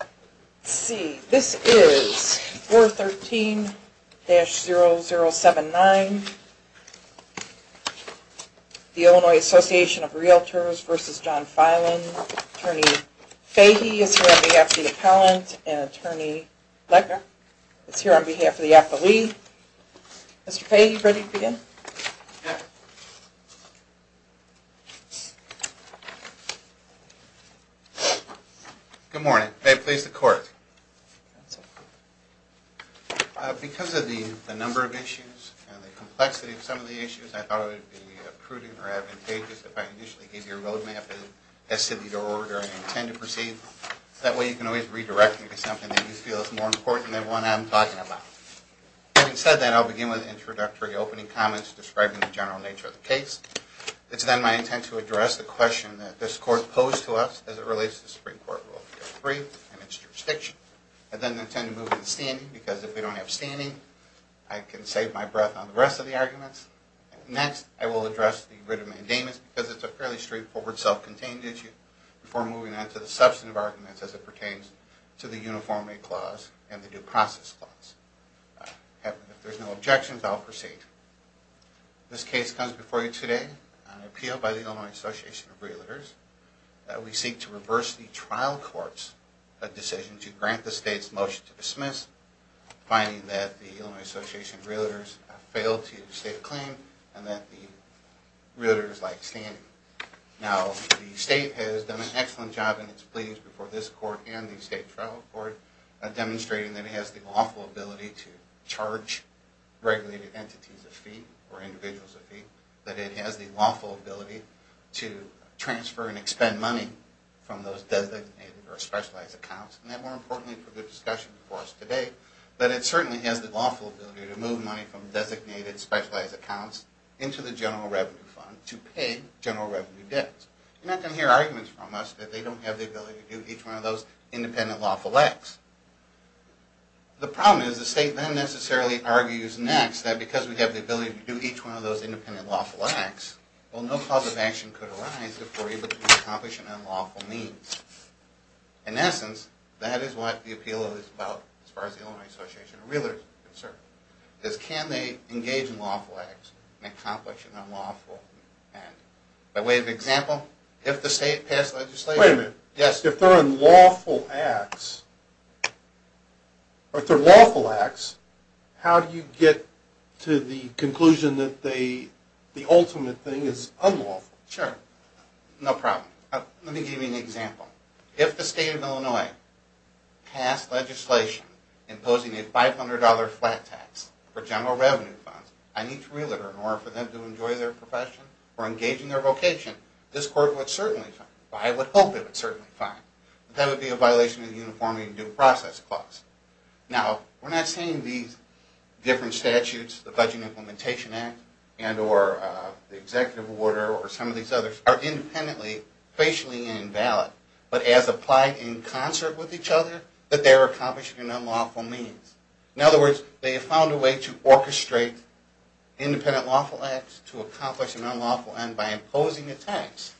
Let's see, this is 413-0079, the Illinois Association of Realtors v. John Filan, Attorney Fahy is here on behalf of the appellant, and Attorney Lecker is here on behalf of the affilee. Mr. Fahy, are you ready to begin? Good morning. May it please the Court. Because of the number of issues and the complexity of some of the issues, I thought it would be prudent or advantageous if I initially gave you a roadmap as to the order I intend to proceed. That way you can always redirect me to something that you feel is more important than what I'm talking about. Having said that, I'll begin with introductory opening comments describing the general nature of the case. It's then my intent to address the question that this Court posed to us as it relates to the Supreme Court Rule 3 and its jurisdiction. I then intend to move into standing, because if we don't have standing, I can save my breath on the rest of the arguments. Next, I will address the writ of mandamus, because it's a fairly straightforward self-contained issue, before moving on to the substantive arguments as it pertains to the uniformity clause and the due process clause. If there are no objections, I'll proceed. This case comes before you today on appeal by the Illinois Association of Realtors. We seek to reverse the trial court's decision to grant the state's motion to dismiss, finding that the Illinois Association of Realtors failed to state a claim and that the realtors like standing. Now, the state has done an excellent job in its pleadings before this Court and the state trial court, demonstrating that it has the lawful ability to charge regulated entities a fee or individuals a fee. That it has the lawful ability to transfer and expend money from those designated or specialized accounts. And that, more importantly for the discussion before us today, that it certainly has the lawful ability to move money from designated, specialized accounts into the general revenue fund to pay general revenue debts. You're not going to hear arguments from us that they don't have the ability to do each one of those independent, lawful acts. The problem is the state then necessarily argues next that because we have the ability to do each one of those independent, lawful acts, well, no cause of action could arise if we're able to accomplish an unlawful means. In essence, that is what the appeal is about as far as the Illinois Association of Realtors is concerned. Is can they engage in lawful acts and accomplish an unlawful act? By way of example, if the state passed legislation... Wait a minute. Yes. If they're unlawful acts, or if they're lawful acts, how do you get to the conclusion that the ultimate thing is unlawful? Sure. No problem. Let me give you an example. If the state of Illinois passed legislation imposing a $500 flat tax for general revenue funds on each realtor in order for them to enjoy their profession or engage in their vocation, this court would certainly fine. I would hope it would certainly fine, but that would be a violation of the Uniform and Due Process Clause. Now, we're not saying these different statutes, the Budget and Implementation Act and or the Executive Order or some of these others are independently, facially invalid, but as applied in concert with each other, that they're accomplishing an unlawful means. In other words, they have found a way to orchestrate independent lawful acts to accomplish an unlawful end by imposing a tax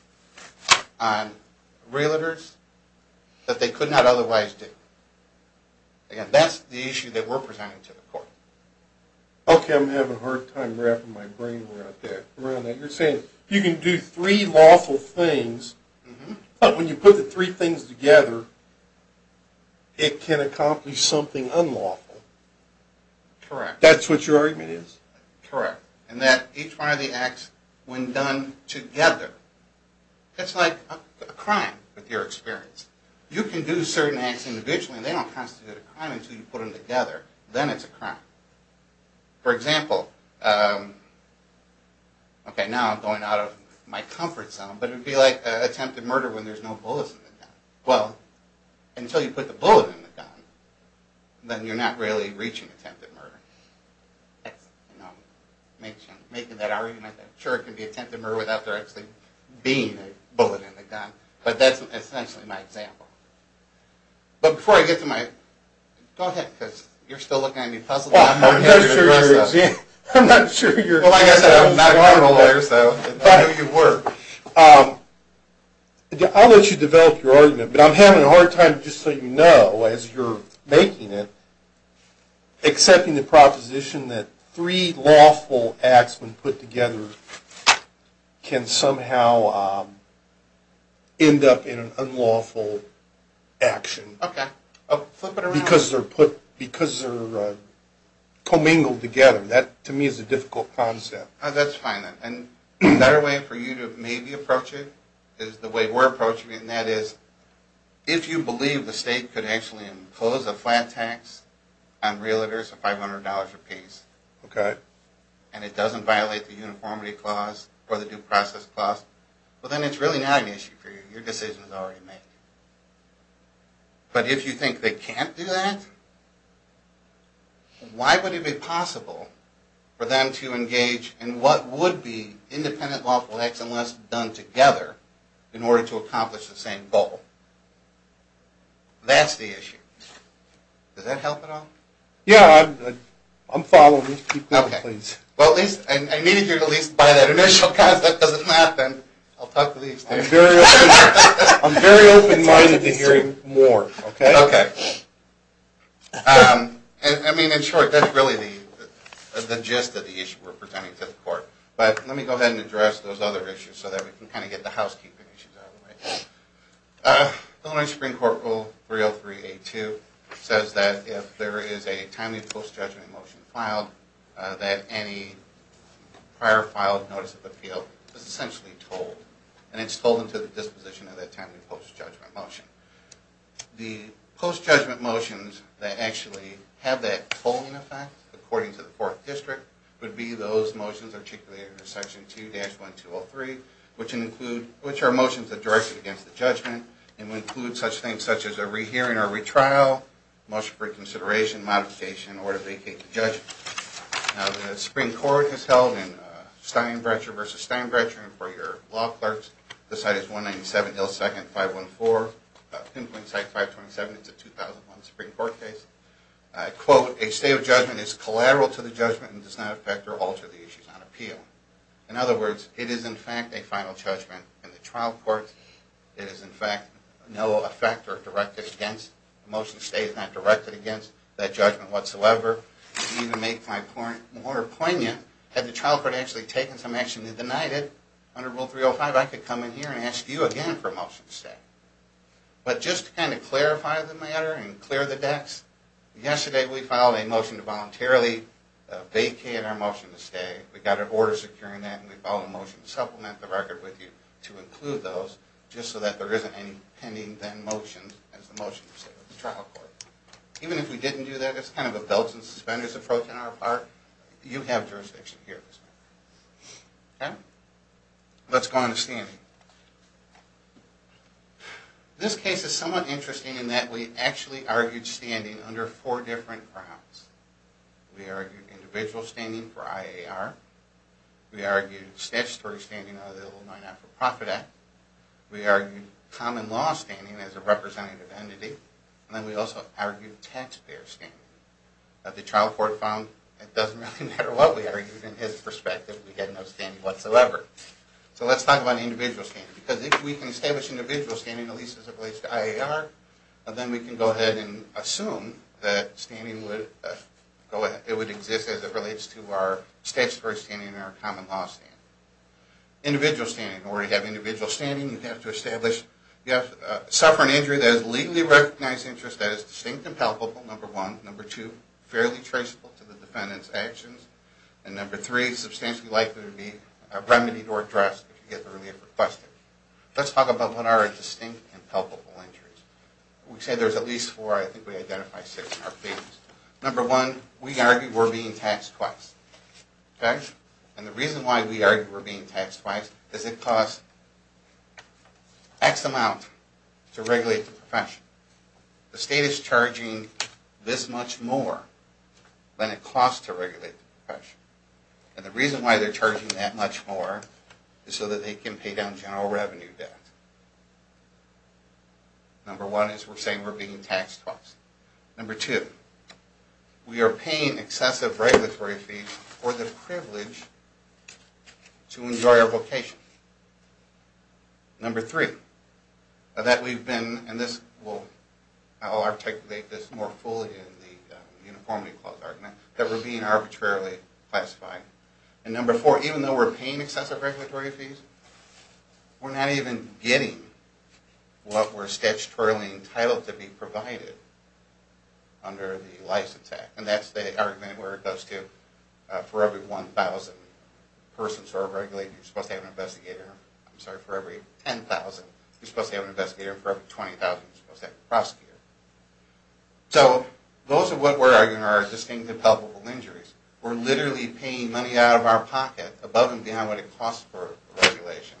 on realtors that they could not otherwise do. Again, that's the issue that we're presenting to the court. Okay, I'm having a hard time wrapping my brain around that. You're saying you can do three lawful things, but when you put the three things together, it can accomplish something unlawful. Correct. That's what your argument is? Correct. And that each one of the acts, when done together, it's like a crime with your experience. You can do certain acts individually, and they don't constitute a crime until you put them together. Then it's a crime. For example, okay, now I'm going out of my comfort zone, but it would be like attempted murder when there's no bullets in the gun. Well, until you put the bullet in the gun, then you're not really reaching attempted murder. Excellent. Now, making that argument, sure, it can be attempted murder without there actually being a bullet in the gun, but that's essentially my example. But before I get to my – go ahead, because you're still looking at me puzzled. I'm not sure you're – I'm not sure you're – Well, like I said, I'm not a criminal lawyer, so I know you were. I'll let you develop your argument, but I'm having a hard time, just so you know, as you're making it, accepting the proposition that three lawful acts when put together can somehow end up in an unlawful action. Okay, flip it around. Because they're put – because they're commingled together. That, to me, is a difficult concept. That's fine, and a better way for you to maybe approach it is the way we're approaching it, and that is if you believe the state could actually impose a flat tax on realtors of $500 a piece, and it doesn't violate the uniformity clause or the due process clause, well, then it's really not an issue for you. Your decision is already made. But if you think they can't do that, why would it be possible for them to engage in what would be independent lawful acts unless done together in order to accomplish the same goal? That's the issue. Does that help at all? Yeah, I'm following. Okay. Well, at least – I needed you to at least buy that initial concept, because if not, then I'll talk to these things. I'm very open-minded to hearing more, okay? Okay. I mean, in short, that's really the gist of the issue we're presenting to the court. But let me go ahead and address those other issues so that we can kind of get the housekeeping issues out of the way. Illinois Supreme Court Rule 303A2 says that if there is a timely post-judgment motion filed, that any prior filed notice of appeal is essentially told, and it's told into the disposition of that timely post-judgment motion. The post-judgment motions that actually have that tolling effect, according to the Fourth District, would be those motions articulated in Section 2-1203, which are motions that direct you against the judgment and would include such things such as a rehearing or retrial, motion for consideration, modification in order to vacate the judgment. Now, the Supreme Court has held in Steinbrecher v. Steinbrecher, and for your law clerks, the site is 197 L. 2nd 514, pinpoint site 527. It's a 2001 Supreme Court case. I quote, a state of judgment is collateral to the judgment and does not affect or alter the issues on appeal. In other words, it is, in fact, a final judgment in the trial court. It is, in fact, no effect or directed against. The motion stays not directed against that judgment whatsoever. To make my point more poignant, had the trial court actually taken some action and denied it, under Rule 305, I could come in here and ask you again for a motion to stay. But just to kind of clarify the matter and clear the decks, yesterday we filed a motion to voluntarily vacate our motion to stay. We got an order securing that, and we filed a motion to supplement the record with you to include those, just so that there isn't any pending then motion as the motion to stay with the trial court. Even if we didn't do that, it's kind of a belts and suspenders approach on our part. You have jurisdiction here. Let's go on to standing. This case is somewhat interesting in that we actually argued standing under four different grounds. We argued individual standing for IAR. We argued statutory standing under the Illinois Not-For-Profit Act. We argued common law standing as a representative entity. And then we also argued taxpayer standing. The trial court found it doesn't really matter what we argued in his perspective. We had no standing whatsoever. So let's talk about individual standing. Because if we can establish individual standing, at least as it relates to IAR, then we can go ahead and assume that standing would exist as it relates to our statutory standing and our common law standing. Individual standing. In order to have individual standing, you have to suffer an injury that is legally recognized interest, that is distinct and palpable, number one. Number two, fairly traceable to the defendant's actions. And number three, substantially likely to be remedied or addressed if you get the relief requested. Let's talk about what are distinct and palpable injuries. We said there's at least four. I think we identified six in our case. Number one, we argued we're being taxed twice. Okay? And the reason why we argued we're being taxed twice is it costs X amount to regulate the profession. The state is charging this much more than it costs to regulate the profession. And the reason why they're charging that much more is so that they can pay down general revenue debt. Number one is we're saying we're being taxed twice. Number two, we are paying excessive regulatory fees for the privilege to enjoy our vocation. Number three, that we've been, and I'll articulate this more fully in the Uniformity Clause argument, that we're being arbitrarily classified. And number four, even though we're paying excessive regulatory fees, we're not even getting what we're statutorily entitled to be provided under the license act. And that's the argument where it goes to, for every 1,000 persons who are regulated, you're supposed to have an investigator. I'm sorry, for every 10,000, you're supposed to have an investigator. And for every 20,000, you're supposed to have a prosecutor. So those are what we're arguing are distinctive palpable injuries. We're literally paying money out of our pocket, above and beyond what it costs for regulation,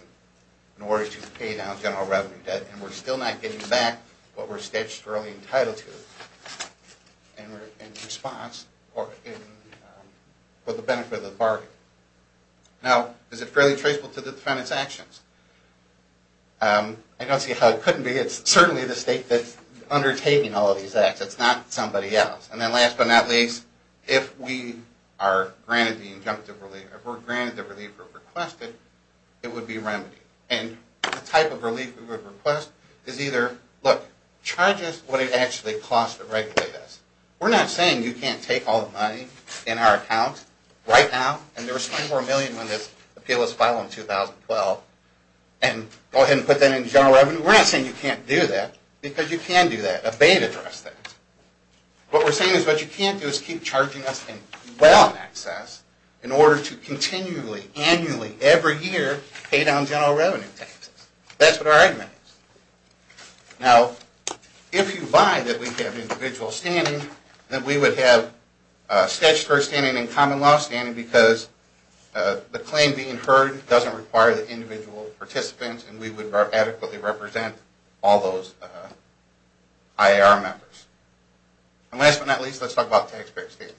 in order to pay down general revenue debt. And we're still not getting back what we're statutorily entitled to in response or for the benefit of the bargain. Now, is it fairly traceable to the defendant's actions? I don't see how it couldn't be. It's certainly the state that's undertaking all of these acts. It's not somebody else. And then last but not least, if we are granted the injunctive relief, if we're granted the relief we're requested, it would be remedied. And the type of relief we would request is either, look, charges what it actually costs to regulate us. We're not saying you can't take all the money in our account right now, and there was $24 million in this appeal that was filed in 2012, and go ahead and put that into general revenue. We're not saying you can't do that, because you can do that. Obey and address that. What we're saying is what you can't do is keep charging us in well in excess in order to continually, annually, every year, pay down general revenue taxes. That's what our argument is. Now, if you buy that we have individual standing, then we would have statutory standing and common law standing, because the claim being heard doesn't require the individual participants, and we would adequately represent all those IAR members. And last but not least, let's talk about taxpayer standing.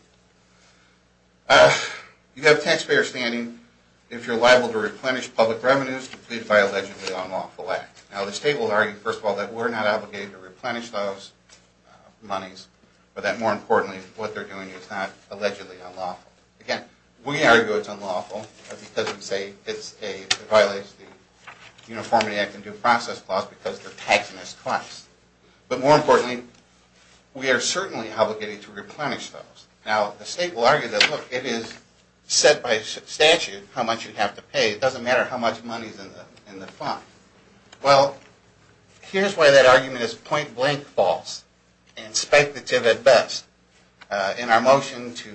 You have taxpayer standing if you're liable to replenish public revenues by allegedly unlawful act. Now, the state will argue, first of all, that we're not obligated to replenish those monies, but that, more importantly, what they're doing is not allegedly unlawful. Again, we argue it's unlawful because it violates the Uniformity Act and Due Process Clause because they're taxing us twice. But more importantly, we are certainly obligated to replenish those. Now, the state will argue that, look, it is set by statute how much you have to pay. It doesn't matter how much money is in the fund. Well, here's why that argument is point-blank false and speculative at best. In our motion to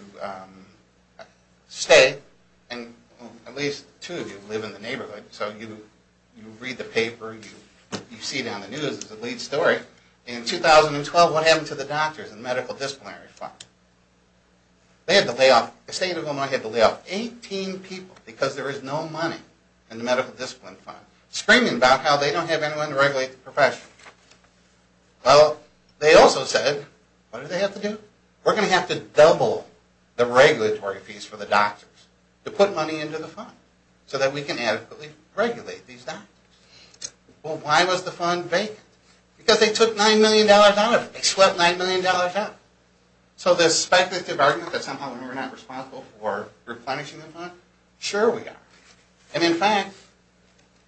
stay, and at least two of you live in the neighborhood, so you read the paper, you see it on the news as a lead story. In 2012, what happened to the doctors and medical disciplinary fund? They had to lay off 18 people because there is no money in the medical discipline fund, screaming about how they don't have anyone to regulate the profession. Well, they also said, what do they have to do? We're going to have to double the regulatory fees for the doctors to put money into the fund so that we can adequately regulate these doctors. Well, why was the fund vacant? Because they took $9 million out of it. They swept $9 million out. So this speculative argument that somehow we're not responsible for replenishing the fund, sure we are. And in fact,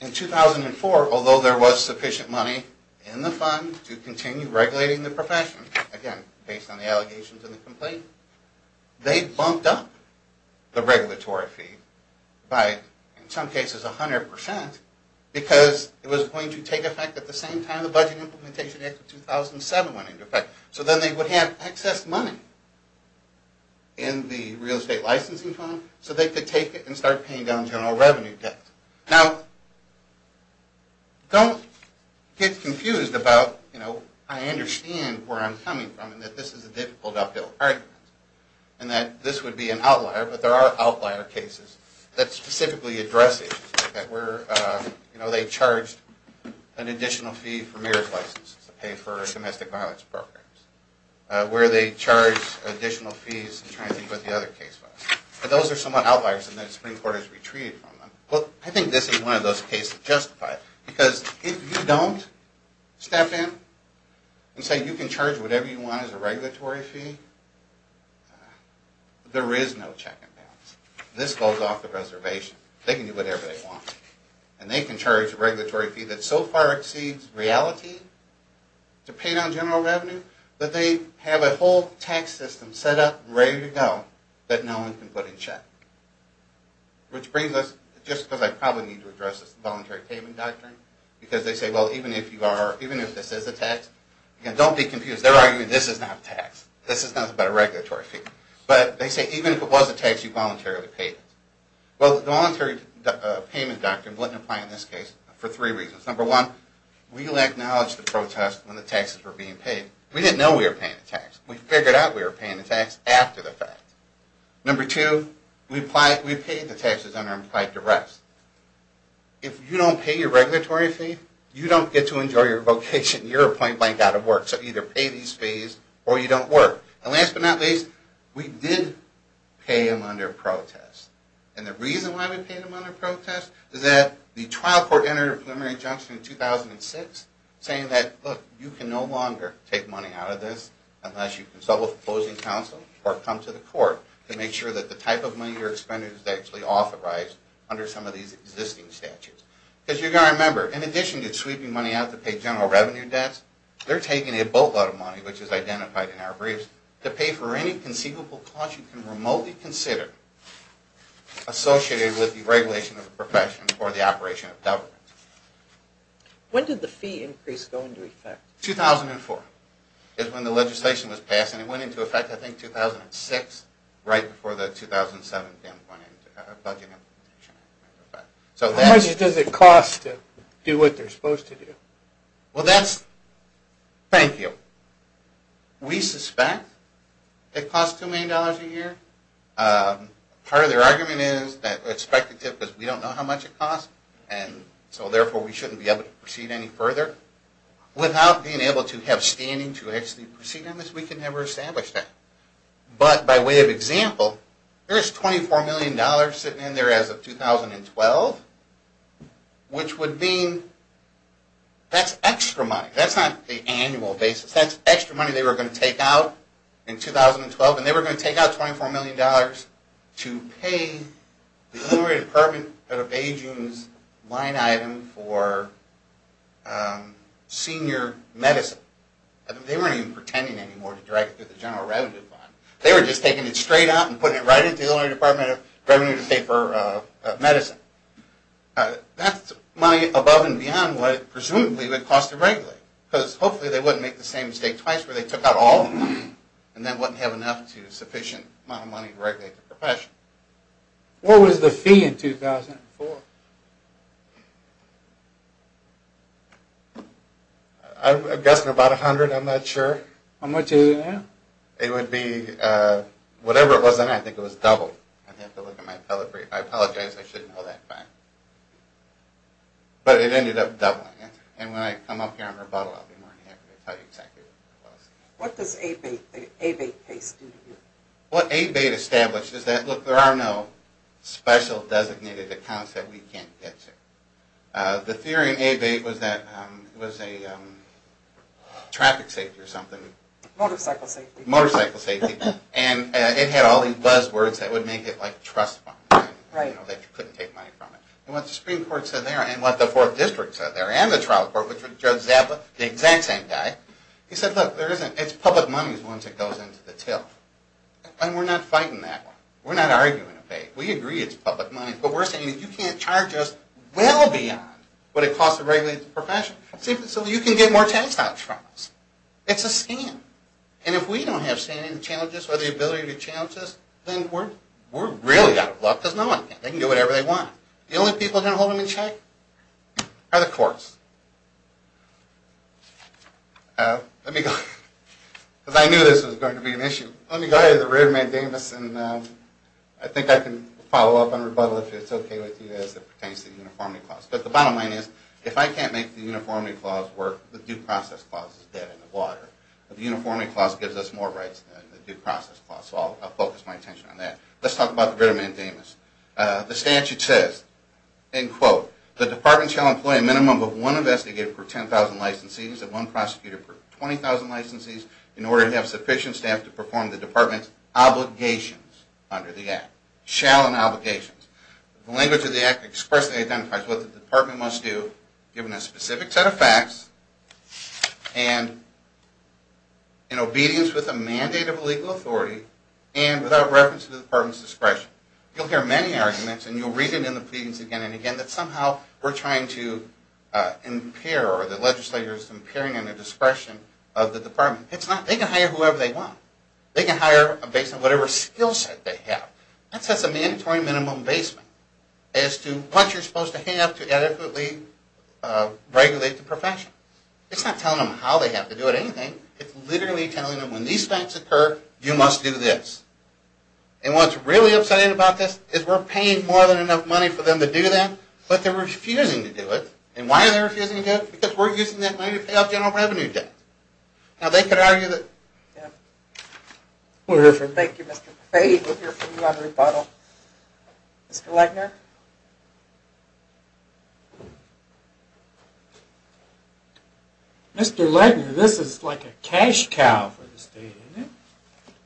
in 2004, although there was sufficient money in the fund to continue regulating the profession, again, based on the allegations and the complaint, they bumped up the regulatory fee by, in some cases, 100 percent because it was going to take effect at the same time the Budget Implementation Act of 2007 went into effect. So then they would have excess money in the real estate licensing fund so they could take it and start paying down general revenue debt. Now, don't get confused about, you know, I understand where I'm coming from and that this is a difficult uphill argument and that this would be an outlier, but there are outlier cases that specifically address it, where, you know, they charged an additional fee for marriage licenses to pay for domestic violence programs, where they charge additional fees to try and think about the other case files. But those are somewhat outliers and then the Supreme Court has retreated from them. Well, I think this is one of those cases that justifies it because if you don't step in and say you can charge whatever you want as a regulatory fee, there is no check and balance. This goes off the reservation. They can do whatever they want. And they can charge a regulatory fee that so far exceeds reality to pay down general revenue, but they have a whole tax system set up and ready to go that no one can put in check. Which brings us, just because I probably need to address this voluntary payment doctrine, because they say, well, even if you are, even if this is a tax, and don't be confused. They're arguing this is not a tax. This is nothing but a regulatory fee. But they say, even if it was a tax, you voluntarily paid it. Well, the voluntary payment doctrine wouldn't apply in this case for three reasons. Number one, we'll acknowledge the protest when the taxes were being paid. We didn't know we were paying the tax. We figured out we were paying the tax after the fact. Number two, we paid the taxes and are implied to rest. If you don't pay your regulatory fee, you don't get to enjoy your vocation. You're plain blank out of work. So either pay these fees or you don't work. And last but not least, we did pay them under protest. And the reason why we paid them under protest is that the trial court entered a preliminary injunction in 2006 saying that, look, you can no longer take money out of this unless you consult with opposing counsel or come to the court to make sure that the type of money you're expending is actually authorized under some of these existing statutes. Because you've got to remember, in addition to sweeping money out to pay general revenue debts, they're taking a boatload of money, which is identified in our briefs, to pay for any conceivable cost you can remotely consider associated with the regulation of a profession or the operation of government. When did the fee increase go into effect? 2004 is when the legislation was passed, and it went into effect, I think, 2006, right before the 2007 budget implementation went into effect. How much does it cost to do what they're supposed to do? Well, that's, thank you. We suspect it costs $2 million a year. Part of their argument is that we expect it to because we don't know how much it costs, and so therefore we shouldn't be able to proceed any further. Without being able to have standing to actually proceed on this, we can never establish that. But by way of example, there's $24 million sitting in there as of 2012, which would mean that's extra money. That's not the annual basis. That's extra money they were going to take out in 2012, and they were going to take out $24 million to pay the Illinois Department of Aging's line item for senior medicine. They weren't even pretending anymore to direct it to the general revenue fund. They were just taking it straight out and putting it right into the Illinois Department of Revenue to pay for medicine. That's money above and beyond what it presumably would cost to regulate, because hopefully they wouldn't make the same mistake twice where they took out all and then wouldn't have enough to sufficient money to regulate the profession. What was the fee in 2004? I'm guessing about $100. I'm not sure. How much is it now? It would be, whatever it was then, I think it was double. I apologize, I shouldn't know that fact. But it ended up doubling. And when I come up here on rebuttal, I'll be more than happy to tell you exactly what it was. What does the Abate case do to you? What Abate established is that, look, there are no special designated accounts that we can't get to. The theory in Abate was that it was a traffic safety or something. Motorcycle safety. Motorcycle safety. And it had all these buzzwords that would make it like a trust fund, that you couldn't take money from it. And what the Supreme Court said there, and what the Fourth District said there, and the trial court, which was Judge Zappa, the exact same guy, he said, look, it's public money once it goes into the till. And we're not fighting that one. We're not arguing Abate. We agree it's public money. But we're saying that you can't charge us well beyond what it costs to regulate the profession. So you can get more tax cuts from us. It's a scam. And if we don't have standing challenges or the ability to challenge us, then we're really out of luck. Because no one can. They can do whatever they want. The only people who can hold them in check are the courts. Let me go ahead. Because I knew this was going to be an issue. Let me go ahead to the rearman, Davis, and I think I can follow up on rebuttal if it's okay with you as it pertains to the uniformity clause. But the bottom line is, if I can't make the uniformity clause work, the due process clause is dead in the water. The uniformity clause gives us more rights than the due process clause. So I'll focus my attention on that. Let's talk about the rearman, Davis. The statute says, end quote, the department shall employ a minimum of one investigator per 10,000 licensees and one prosecutor per 20,000 licensees in order to have sufficient staff to perform the department's obligations under the act. Shall and obligations. The language of the act expressly identifies what the department must do, given a specific set of facts, and in obedience with a mandate of a legal authority, and without reference to the department's discretion. You'll hear many arguments, and you'll read it in the pleadings again and again, that somehow we're trying to impair or the legislator is impairing the discretion of the department. It's not. They can hire whoever they want. They can hire based on whatever skill set they have. That sets a mandatory minimum basement as to what you're supposed to have to adequately regulate the profession. It's not telling them how they have to do it or anything. It's literally telling them when these facts occur, you must do this. And what's really upsetting about this is we're paying more than enough money for them to do that, but they're refusing to do it. And why are they refusing to do it? Because we're using that money to pay off general revenue debt. Now, they could argue that. Thank you, Mr. Fahy. We'll hear from you on rebuttal. Mr. Legner? Mr. Legner, this is like a cash cow for the state, isn't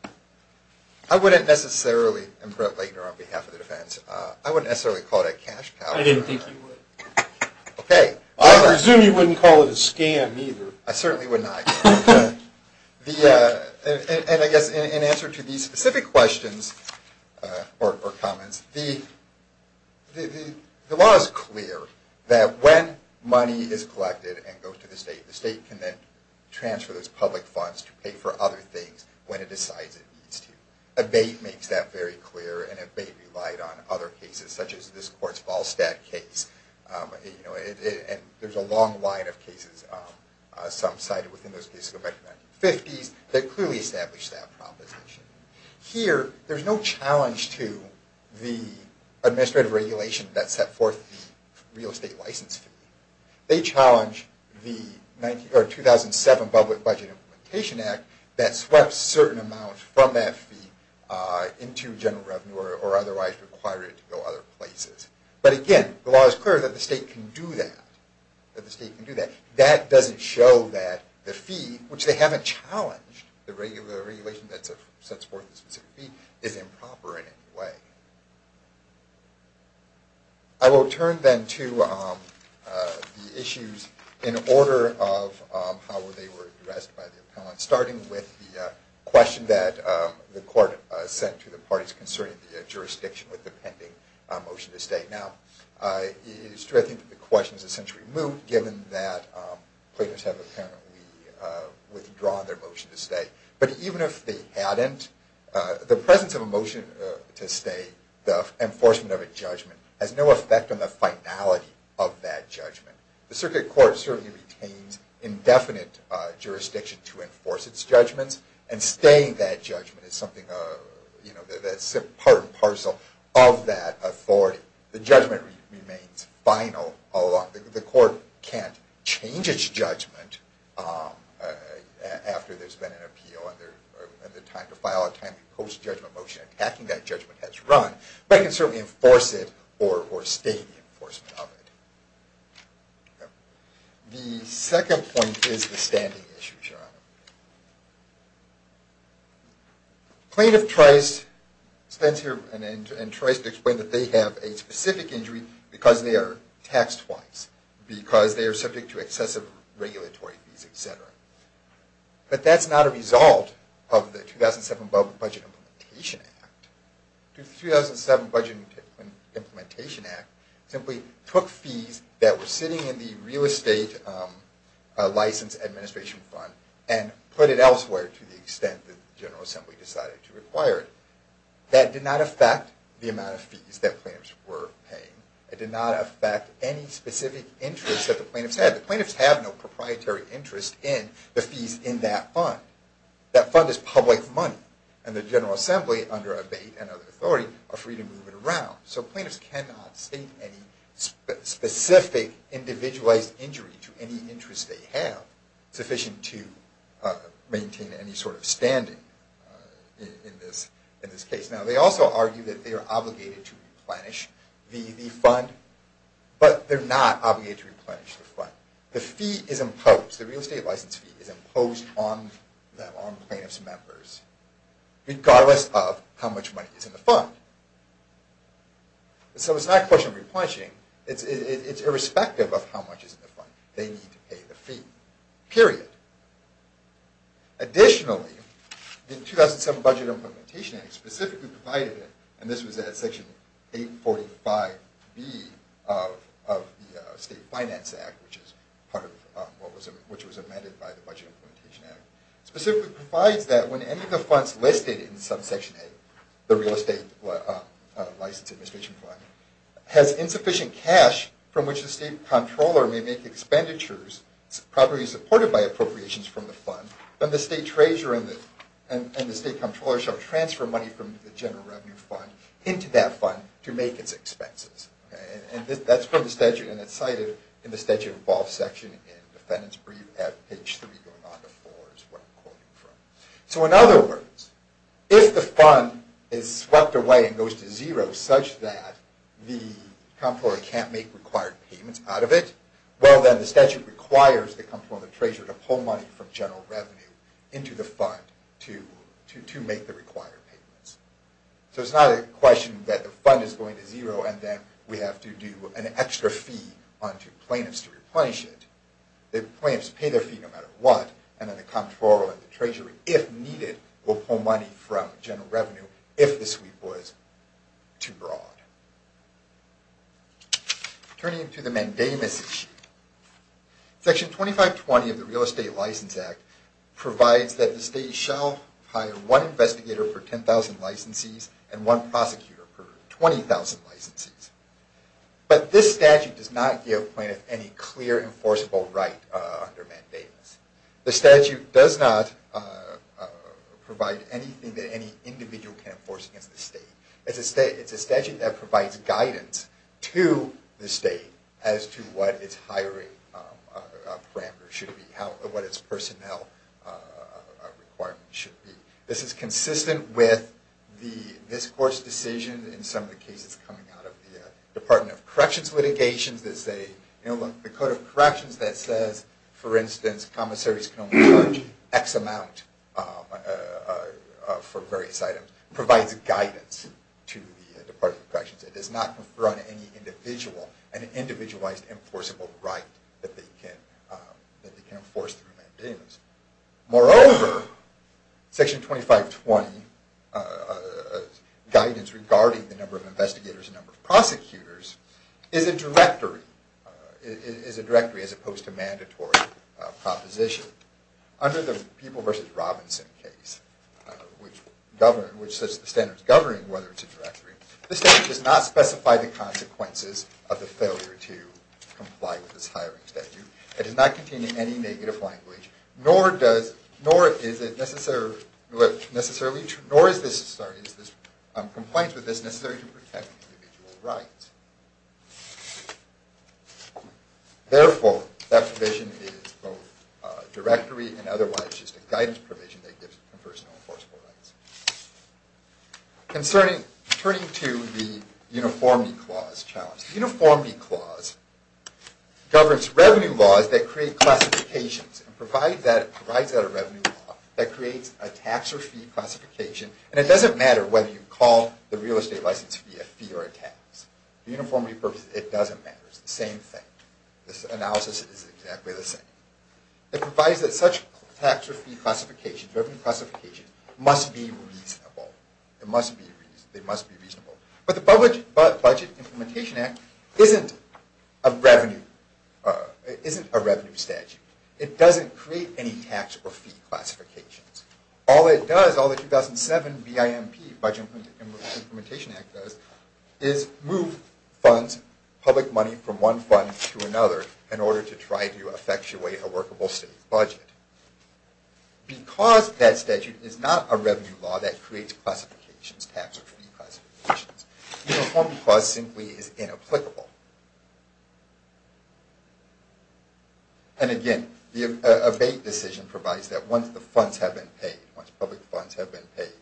it? I wouldn't necessarily imprint Legner on behalf of the defense. I wouldn't necessarily call it a cash cow. I didn't think you would. Okay. I presume you wouldn't call it a scam either. I certainly would not. And I guess in answer to these specific questions or comments, the law is clear that when money is collected and goes to the state, the state can then transfer those public funds to pay for other things when it decides it needs to. Abate makes that very clear, and Abate relied on other cases, such as this court's Ballstatt case. There's a long line of cases. Some cited within those cases go back to the 1950s. They clearly established that proposition. Here, there's no challenge to the administrative regulation that set forth the real estate license fee. They challenge the 2007 Public Budget Implementation Act that swept certain amounts from that fee into general revenue or otherwise required it to go other places. But, again, the law is clear that the state can do that. That doesn't show that the fee, which they haven't challenged, the regular regulation that sets forth the specific fee, is improper in any way. I will turn then to the issues in order of how they were addressed by the appellant, starting with the question that the court sent to the parties concerning the jurisdiction with the pending motion to state. Now, it is true, I think, that the question is essentially moved, given that plaintiffs have apparently withdrawn their motion to state. But even if they hadn't, the presence of a motion to state, the enforcement of a judgment, has no effect on the finality of that judgment. The circuit court certainly retains indefinite jurisdiction to enforce its judgments, and staying that judgment is part and parcel of that authority. The judgment remains final all along. The court can't change its judgment after there's been an appeal and the time to file a post-judgment motion attacking that judgment has run. But it can certainly enforce it or state the enforcement of it. The second point is the standing issue, Your Honor. Plaintiff tries to explain that they have a specific injury because they are taxed twice, because they are subject to excessive regulatory fees, etc. But that's not a result of the 2007 Budget Implementation Act. The 2007 Budget Implementation Act simply took fees that were sitting in the real estate license administration fund and put it elsewhere to the extent that the General Assembly decided to require it. That did not affect the amount of fees that plaintiffs were paying. It did not affect any specific interest that the plaintiffs had. The plaintiffs have no proprietary interest in the fees in that fund. That fund is public money, and the General Assembly, under abate and other authority, are free to move it around. So plaintiffs cannot state any specific individualized injury to any interest they have sufficient to maintain any sort of standing in this case. Now, they also argue that they are obligated to replenish the fund, the fee is imposed, the real estate license fee is imposed on the plaintiffs' members, regardless of how much money is in the fund. So it's not a question of replenishing, it's irrespective of how much is in the fund. They need to pay the fee, period. Additionally, the 2007 Budget Implementation Act specifically provided it, and this was at Section 845B of the State Finance Act, which was amended by the Budget Implementation Act, specifically provides that when any of the funds listed in subsection A, the real estate license administration fund, has insufficient cash from which the state controller may make expenditures, properly supported by appropriations from the fund, then the state treasurer and the state controller shall transfer money from the general revenue fund into that fund to make its expenses. And that's from the statute, and it's cited in the statute of all section in defendant's brief at page 3, going on to 4 is what I'm quoting from. So in other words, if the fund is swept away and goes to zero, such that the comptroller can't make required payments out of it, well, then the statute requires the comptroller and the treasurer to pull money from general revenue into the fund to make the required payments. So it's not a question that the fund is going to zero, and then we have to do an extra fee onto plaintiffs to replenish it. The plaintiffs pay their fee no matter what, and then the comptroller and the treasurer, if needed, will pull money from general revenue if the sweep was too broad. Turning to the mandamus issue. Section 2520 of the Real Estate License Act provides that the state shall hire one investigator for 10,000 licensees and one prosecutor for 20,000 licensees. But this statute does not give plaintiffs any clear enforceable right under mandamus. The statute does not provide anything that any individual can enforce against the state. It's a statute that provides guidance to the state as to what its hiring parameters should be, what its personnel requirements should be. This is consistent with this Court's decision in some of the cases coming out of the Department of Corrections litigations that say, you know, look, the Code of Corrections that says, for instance, commissaries can only charge X amount for various items. It provides guidance to the Department of Corrections. It does not run any individual, an individualized enforceable right that they can enforce through mandamus. Moreover, Section 2520 guidance regarding the number of investigators and number of prosecutors is a directory, is a directory as opposed to mandatory proposition. Under the People v. Robinson case, which governs, which sets the standards governing whether it's a directory, the statute does not specify the consequences of the failure to comply with this hiring statute. It does not contain any negative language, nor does, nor is it necessarily, nor is this, sorry, is this complaint with this necessary to protect individual rights. Therefore, that provision is both a directory and otherwise just a guidance provision that gives personnel enforceable rights. Concerning, turning to the Uniformity Clause challenge. The Uniformity Clause governs revenue laws that create classifications and provides that, provides that a revenue law that creates a tax or fee classification. And it doesn't matter whether you call the real estate license fee a fee or a tax. The Uniformity Purpose, it doesn't matter. It's the same thing. This analysis is exactly the same. It provides that such tax or fee classifications, revenue classifications, must be reasonable. It must be, they must be reasonable. But the Budget Implementation Act isn't a revenue, isn't a revenue statute. It doesn't create any tax or fee classifications. All it does, all the 2007 BIMP, Budget Implementation Act does, is move funds, public money from one fund to another in order to try to effectuate a workable state budget. Because that statute is not a revenue law that creates classifications, tax or fee classifications, the Uniformity Clause simply is inapplicable. And again, the abate decision provides that once the funds have been paid, once public funds have been paid,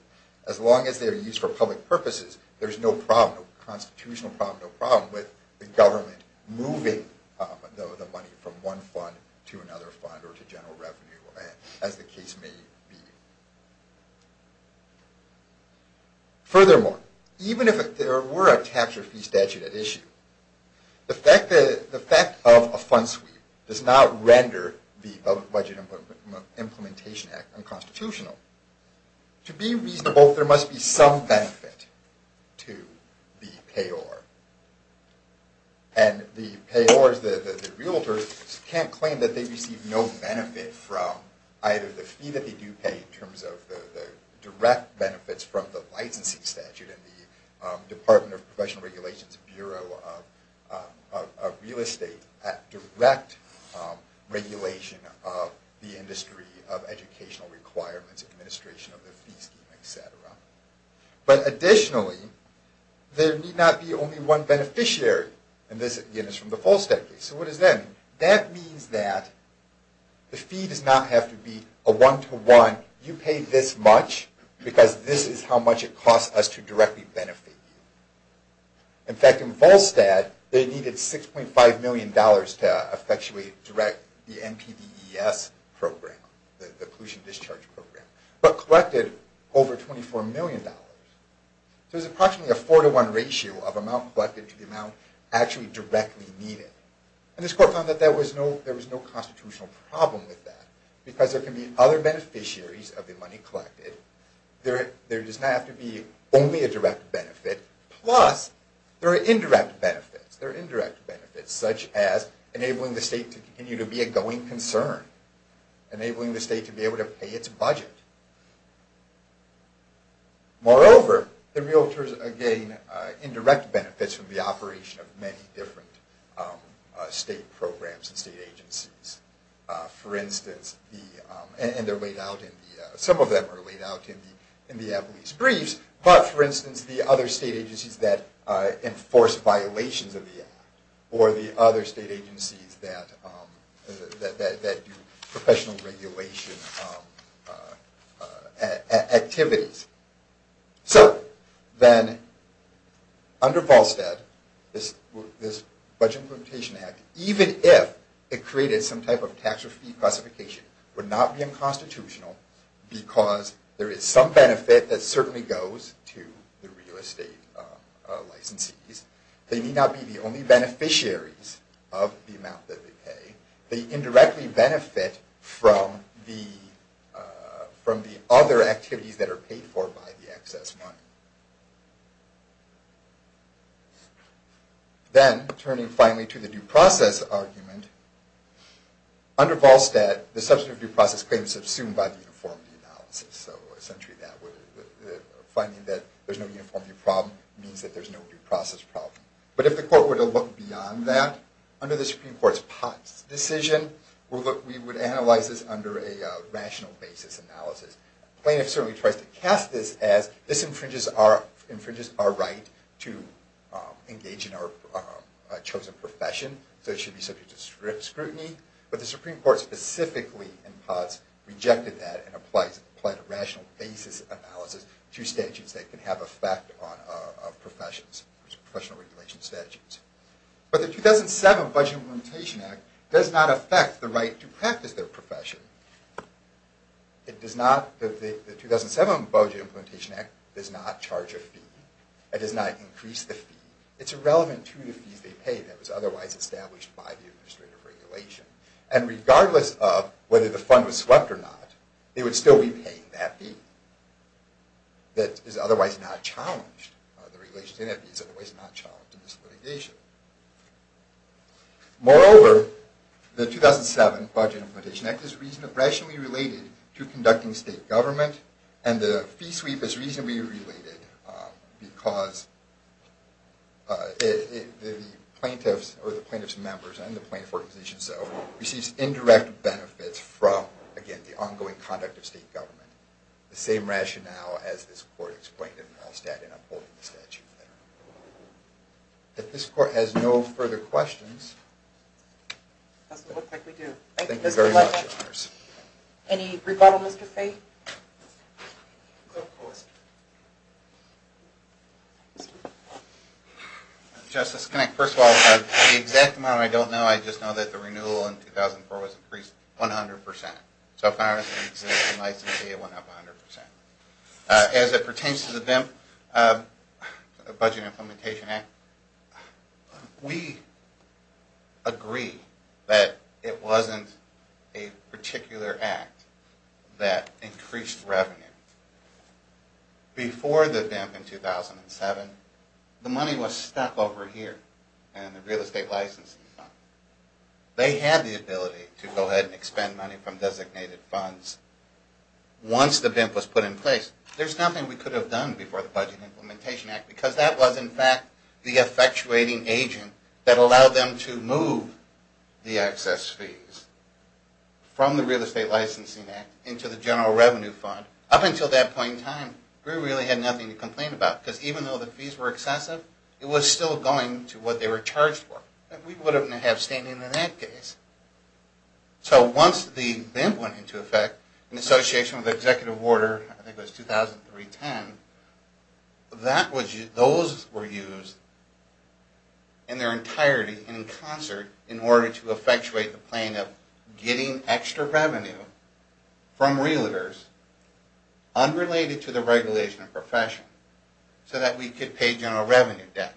as long as they are used for public purposes, there's no problem, no constitutional problem, no problem with the government moving the money from one fund to another fund or to general revenue, as the case may be. Furthermore, even if there were a tax or fee statute at issue, the fact of a fund sweep does not render the Budget Implementation Act unconstitutional. To be reasonable, there must be some benefit to the payor. And the payors, the realtors, can't claim that they receive no benefit from either the fee that they do pay in terms of the direct benefits from the licensing statute and the Department of Professional Regulations Bureau of Real Estate at direct regulation of the industry, of educational requirements, administration of the fee scheme, etc. But additionally, there need not be only one beneficiary. And this, again, is from the Falstead case. So what does that mean? That means that the fee does not have to be a one-to-one, you pay this much because this is how much it costs us to directly benefit you. In fact, in Falstead, they needed $6.5 million to effectually direct the NPDES program, the Pollution Discharge Program, but collected over $24 million. So there's approximately a four-to-one ratio of amount collected to the amount actually directly needed. And this court found that there was no constitutional problem with that because there can be other beneficiaries of the money collected. There does not have to be only a direct benefit. Plus, there are indirect benefits, such as enabling the state to continue to be a going concern, enabling the state to be able to pay its budget. Moreover, the realtors gain indirect benefits from the operation of many different state programs and state agencies. For instance, and some of them are laid out in the Appellee's Briefs, but for instance, the other state agencies that enforce violations of the Act or the other state agencies that do professional regulation activities. So then, under Falstead, this Budget Implementation Act, even if it created some type of tax or fee classification, would not be unconstitutional because there is some benefit that certainly goes to the real estate licensees. They may not be the only beneficiaries of the amount that they pay. They indirectly benefit from the other activities that are paid for by the excess money. Then, turning finally to the due process argument, under Falstead, the substantive due process claim is subsumed by the uniformity analysis. So essentially, finding that there is no uniformity problem means that there is no due process problem. But if the court were to look beyond that, under the Supreme Court's POTS decision, we would analyze this under a rational basis analysis. The plaintiff certainly tries to cast this as this infringes our right to engage in our chosen profession, so it should be subject to scrutiny. But the Supreme Court specifically in POTS rejected that and applied a rational basis analysis to statutes that can have an effect on professional regulation statutes. But the 2007 Budget Implementation Act does not affect the right to practice their profession. The 2007 Budget Implementation Act does not charge a fee. It does not increase the fee. It's irrelevant to the fees they pay that was otherwise established by the administrative regulation. And regardless of whether the fund was swept or not, they would still be paying that fee. That is otherwise not challenged. The regulation in that fee is otherwise not challenged in this litigation. Moreover, the 2007 Budget Implementation Act is rationally related to conducting state government, and the fee sweep is reasonably related because the plaintiff's members and the plaintiff's organization receives indirect benefits from, again, the ongoing conduct of state government. The same rationale as this Court explained in Halstead in upholding the statute there. If this Court has no further questions... It doesn't look like we do. Thank you very much. Any rebuttal, Mr. Fay? Justice, first of all, the exact amount I don't know. I just know that the renewal in 2004 was increased 100 percent. So far, it's been licensed to be 100 percent. As it pertains to the BIMP, the Budget Implementation Act, we agree that it wasn't a particular act that increased revenue. Before the BIMP in 2007, the money was stuck over here in the real estate licensing fund. They had the ability to go ahead and expend money from designated funds. Once the BIMP was put in place, there's nothing we could have done before the Budget Implementation Act because that was, in fact, the effectuating agent that allowed them to move the excess fees from the Real Estate Licensing Act into the General Revenue Fund. Up until that point in time, we really had nothing to complain about because even though the fees were excessive, it was still going to what they were charged for. We wouldn't have had standing in that case. So once the BIMP went into effect in association with Executive Order, I think it was 2003-10, those were used in their entirety in concert in order to effectuate the plan of getting extra revenue from realtors unrelated to the regulation of profession so that we could pay general revenue debt.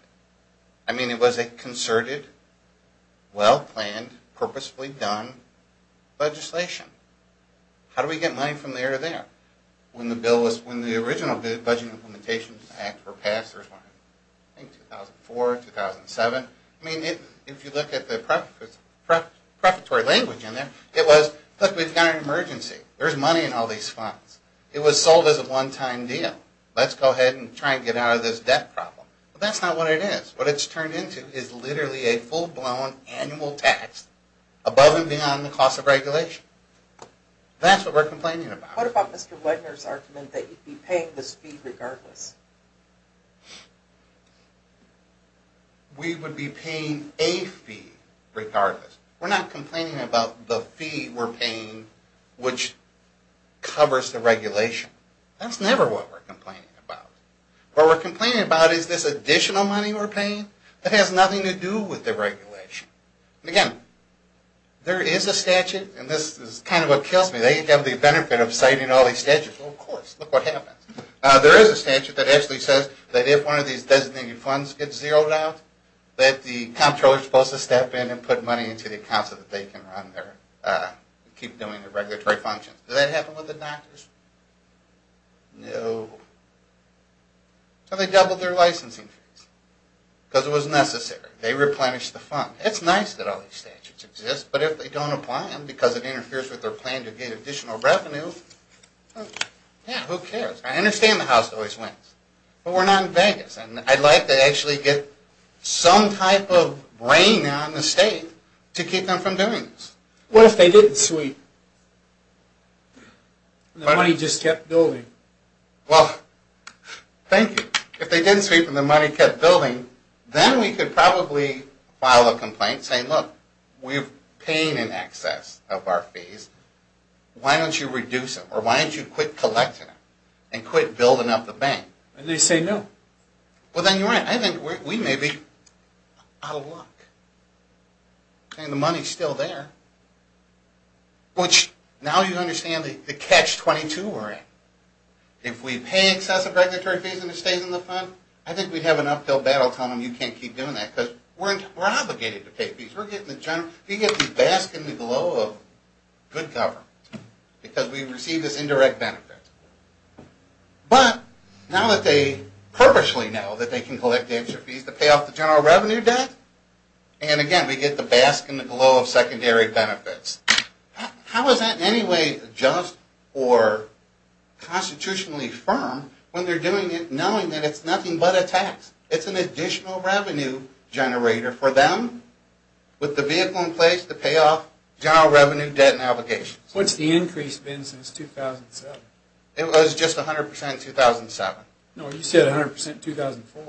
I mean, it was a concerted, well-planned, purposefully done legislation. How do we get money from there to there? When the original Budget Implementation Act were passed, I think 2004-2007, I mean, if you look at the prefatory language in there, it was, look, we've got an emergency. There's money in all these funds. It was sold as a one-time deal. Let's go ahead and try and get out of this debt problem. But that's not what it is. What it's turned into is literally a full-blown annual tax above and beyond the cost of regulation. That's what we're complaining about. What about Mr. Wedner's argument that you'd be paying this fee regardless? We would be paying a fee regardless. We're not complaining about the fee we're paying which covers the regulation. That's never what we're complaining about. What we're complaining about is this additional money we're paying that has nothing to do with the regulation. Again, there is a statute, and this is kind of what kills me. They have the benefit of citing all these statutes. Well, of course. Look what happens. There is a statute that actually says that if one of these designated funds gets zeroed out, that the comptroller is supposed to step in and put money into the account so that they can run their, keep doing their regulatory functions. Does that happen with the doctors? No. So they doubled their licensing fees because it was necessary. They replenished the fund. It's nice that all these statutes exist, but if they don't apply them because it interferes with their plan to get additional revenue, yeah, who cares? I understand the House always wins, but we're not in Vegas, and I'd like to actually get some type of brain on the state to keep them from doing this. What if they didn't sweep? The money just kept building. Well, thank you. If they didn't sweep and the money kept building, then we could probably file a complaint saying, look, we're paying in excess of our fees. Why don't you reduce it, or why don't you quit collecting it and quit building up the bank? And they say no. Well, then you're right. I think we may be out of luck. I mean, the money is still there. Now you understand the catch-22 we're in. If we pay in excess of regulatory fees and it stays in the fund, I think we'd have an uphill battle telling them you can't keep doing that because we're obligated to pay fees. We get the bask in the glow of good government because we receive this indirect benefit. But now that they purposely know that they can collect the extra fees to pay off the general revenue debt, and, again, we get the bask in the glow of secondary benefits, how is that in any way just or constitutionally firm when they're doing it knowing that it's nothing but a tax? It's an additional revenue generator for them, with the vehicle in place to pay off general revenue debt and obligations. What's the increase been since 2007? It was just 100% in 2007. No, you said 100% in 2004.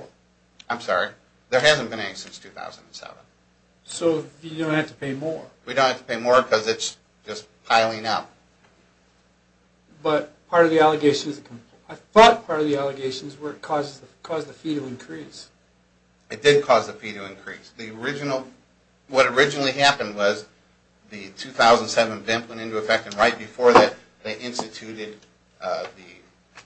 I'm sorry. There hasn't been any since 2007. So you don't have to pay more. We don't have to pay more because it's just piling up. But part of the allegations, I thought part of the allegations were it caused the fee to increase. It did cause the fee to increase. The original, what originally happened was the 2007 VIMP went into effect, and right before that, they instituted the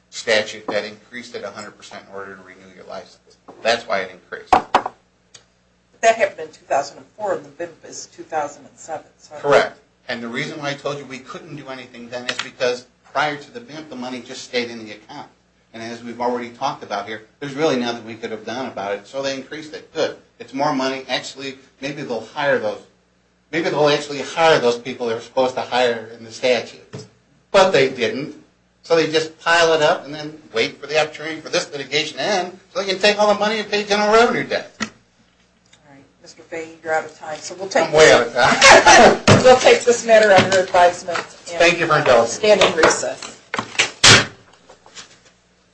statute that increased it 100% in order to renew your license. That's why it increased. That happened in 2004, and the VIMP is 2007. Correct. And the reason why I told you we couldn't do anything then is because prior to the VIMP, the money just stayed in the account. And as we've already talked about here, there's really nothing we could have done about it. So they increased it. Good. It's more money. Actually, maybe they'll hire those. Those people they're supposed to hire in the statute. But they didn't. So they just pile it up and then wait for the opportunity for this litigation to end so they can take all the money and pay general revenue debt. All right. Mr. Fahey, you're out of time. I'm way out of time. We'll take this matter under advisement. Thank you for indulging. And we'll stand in recess.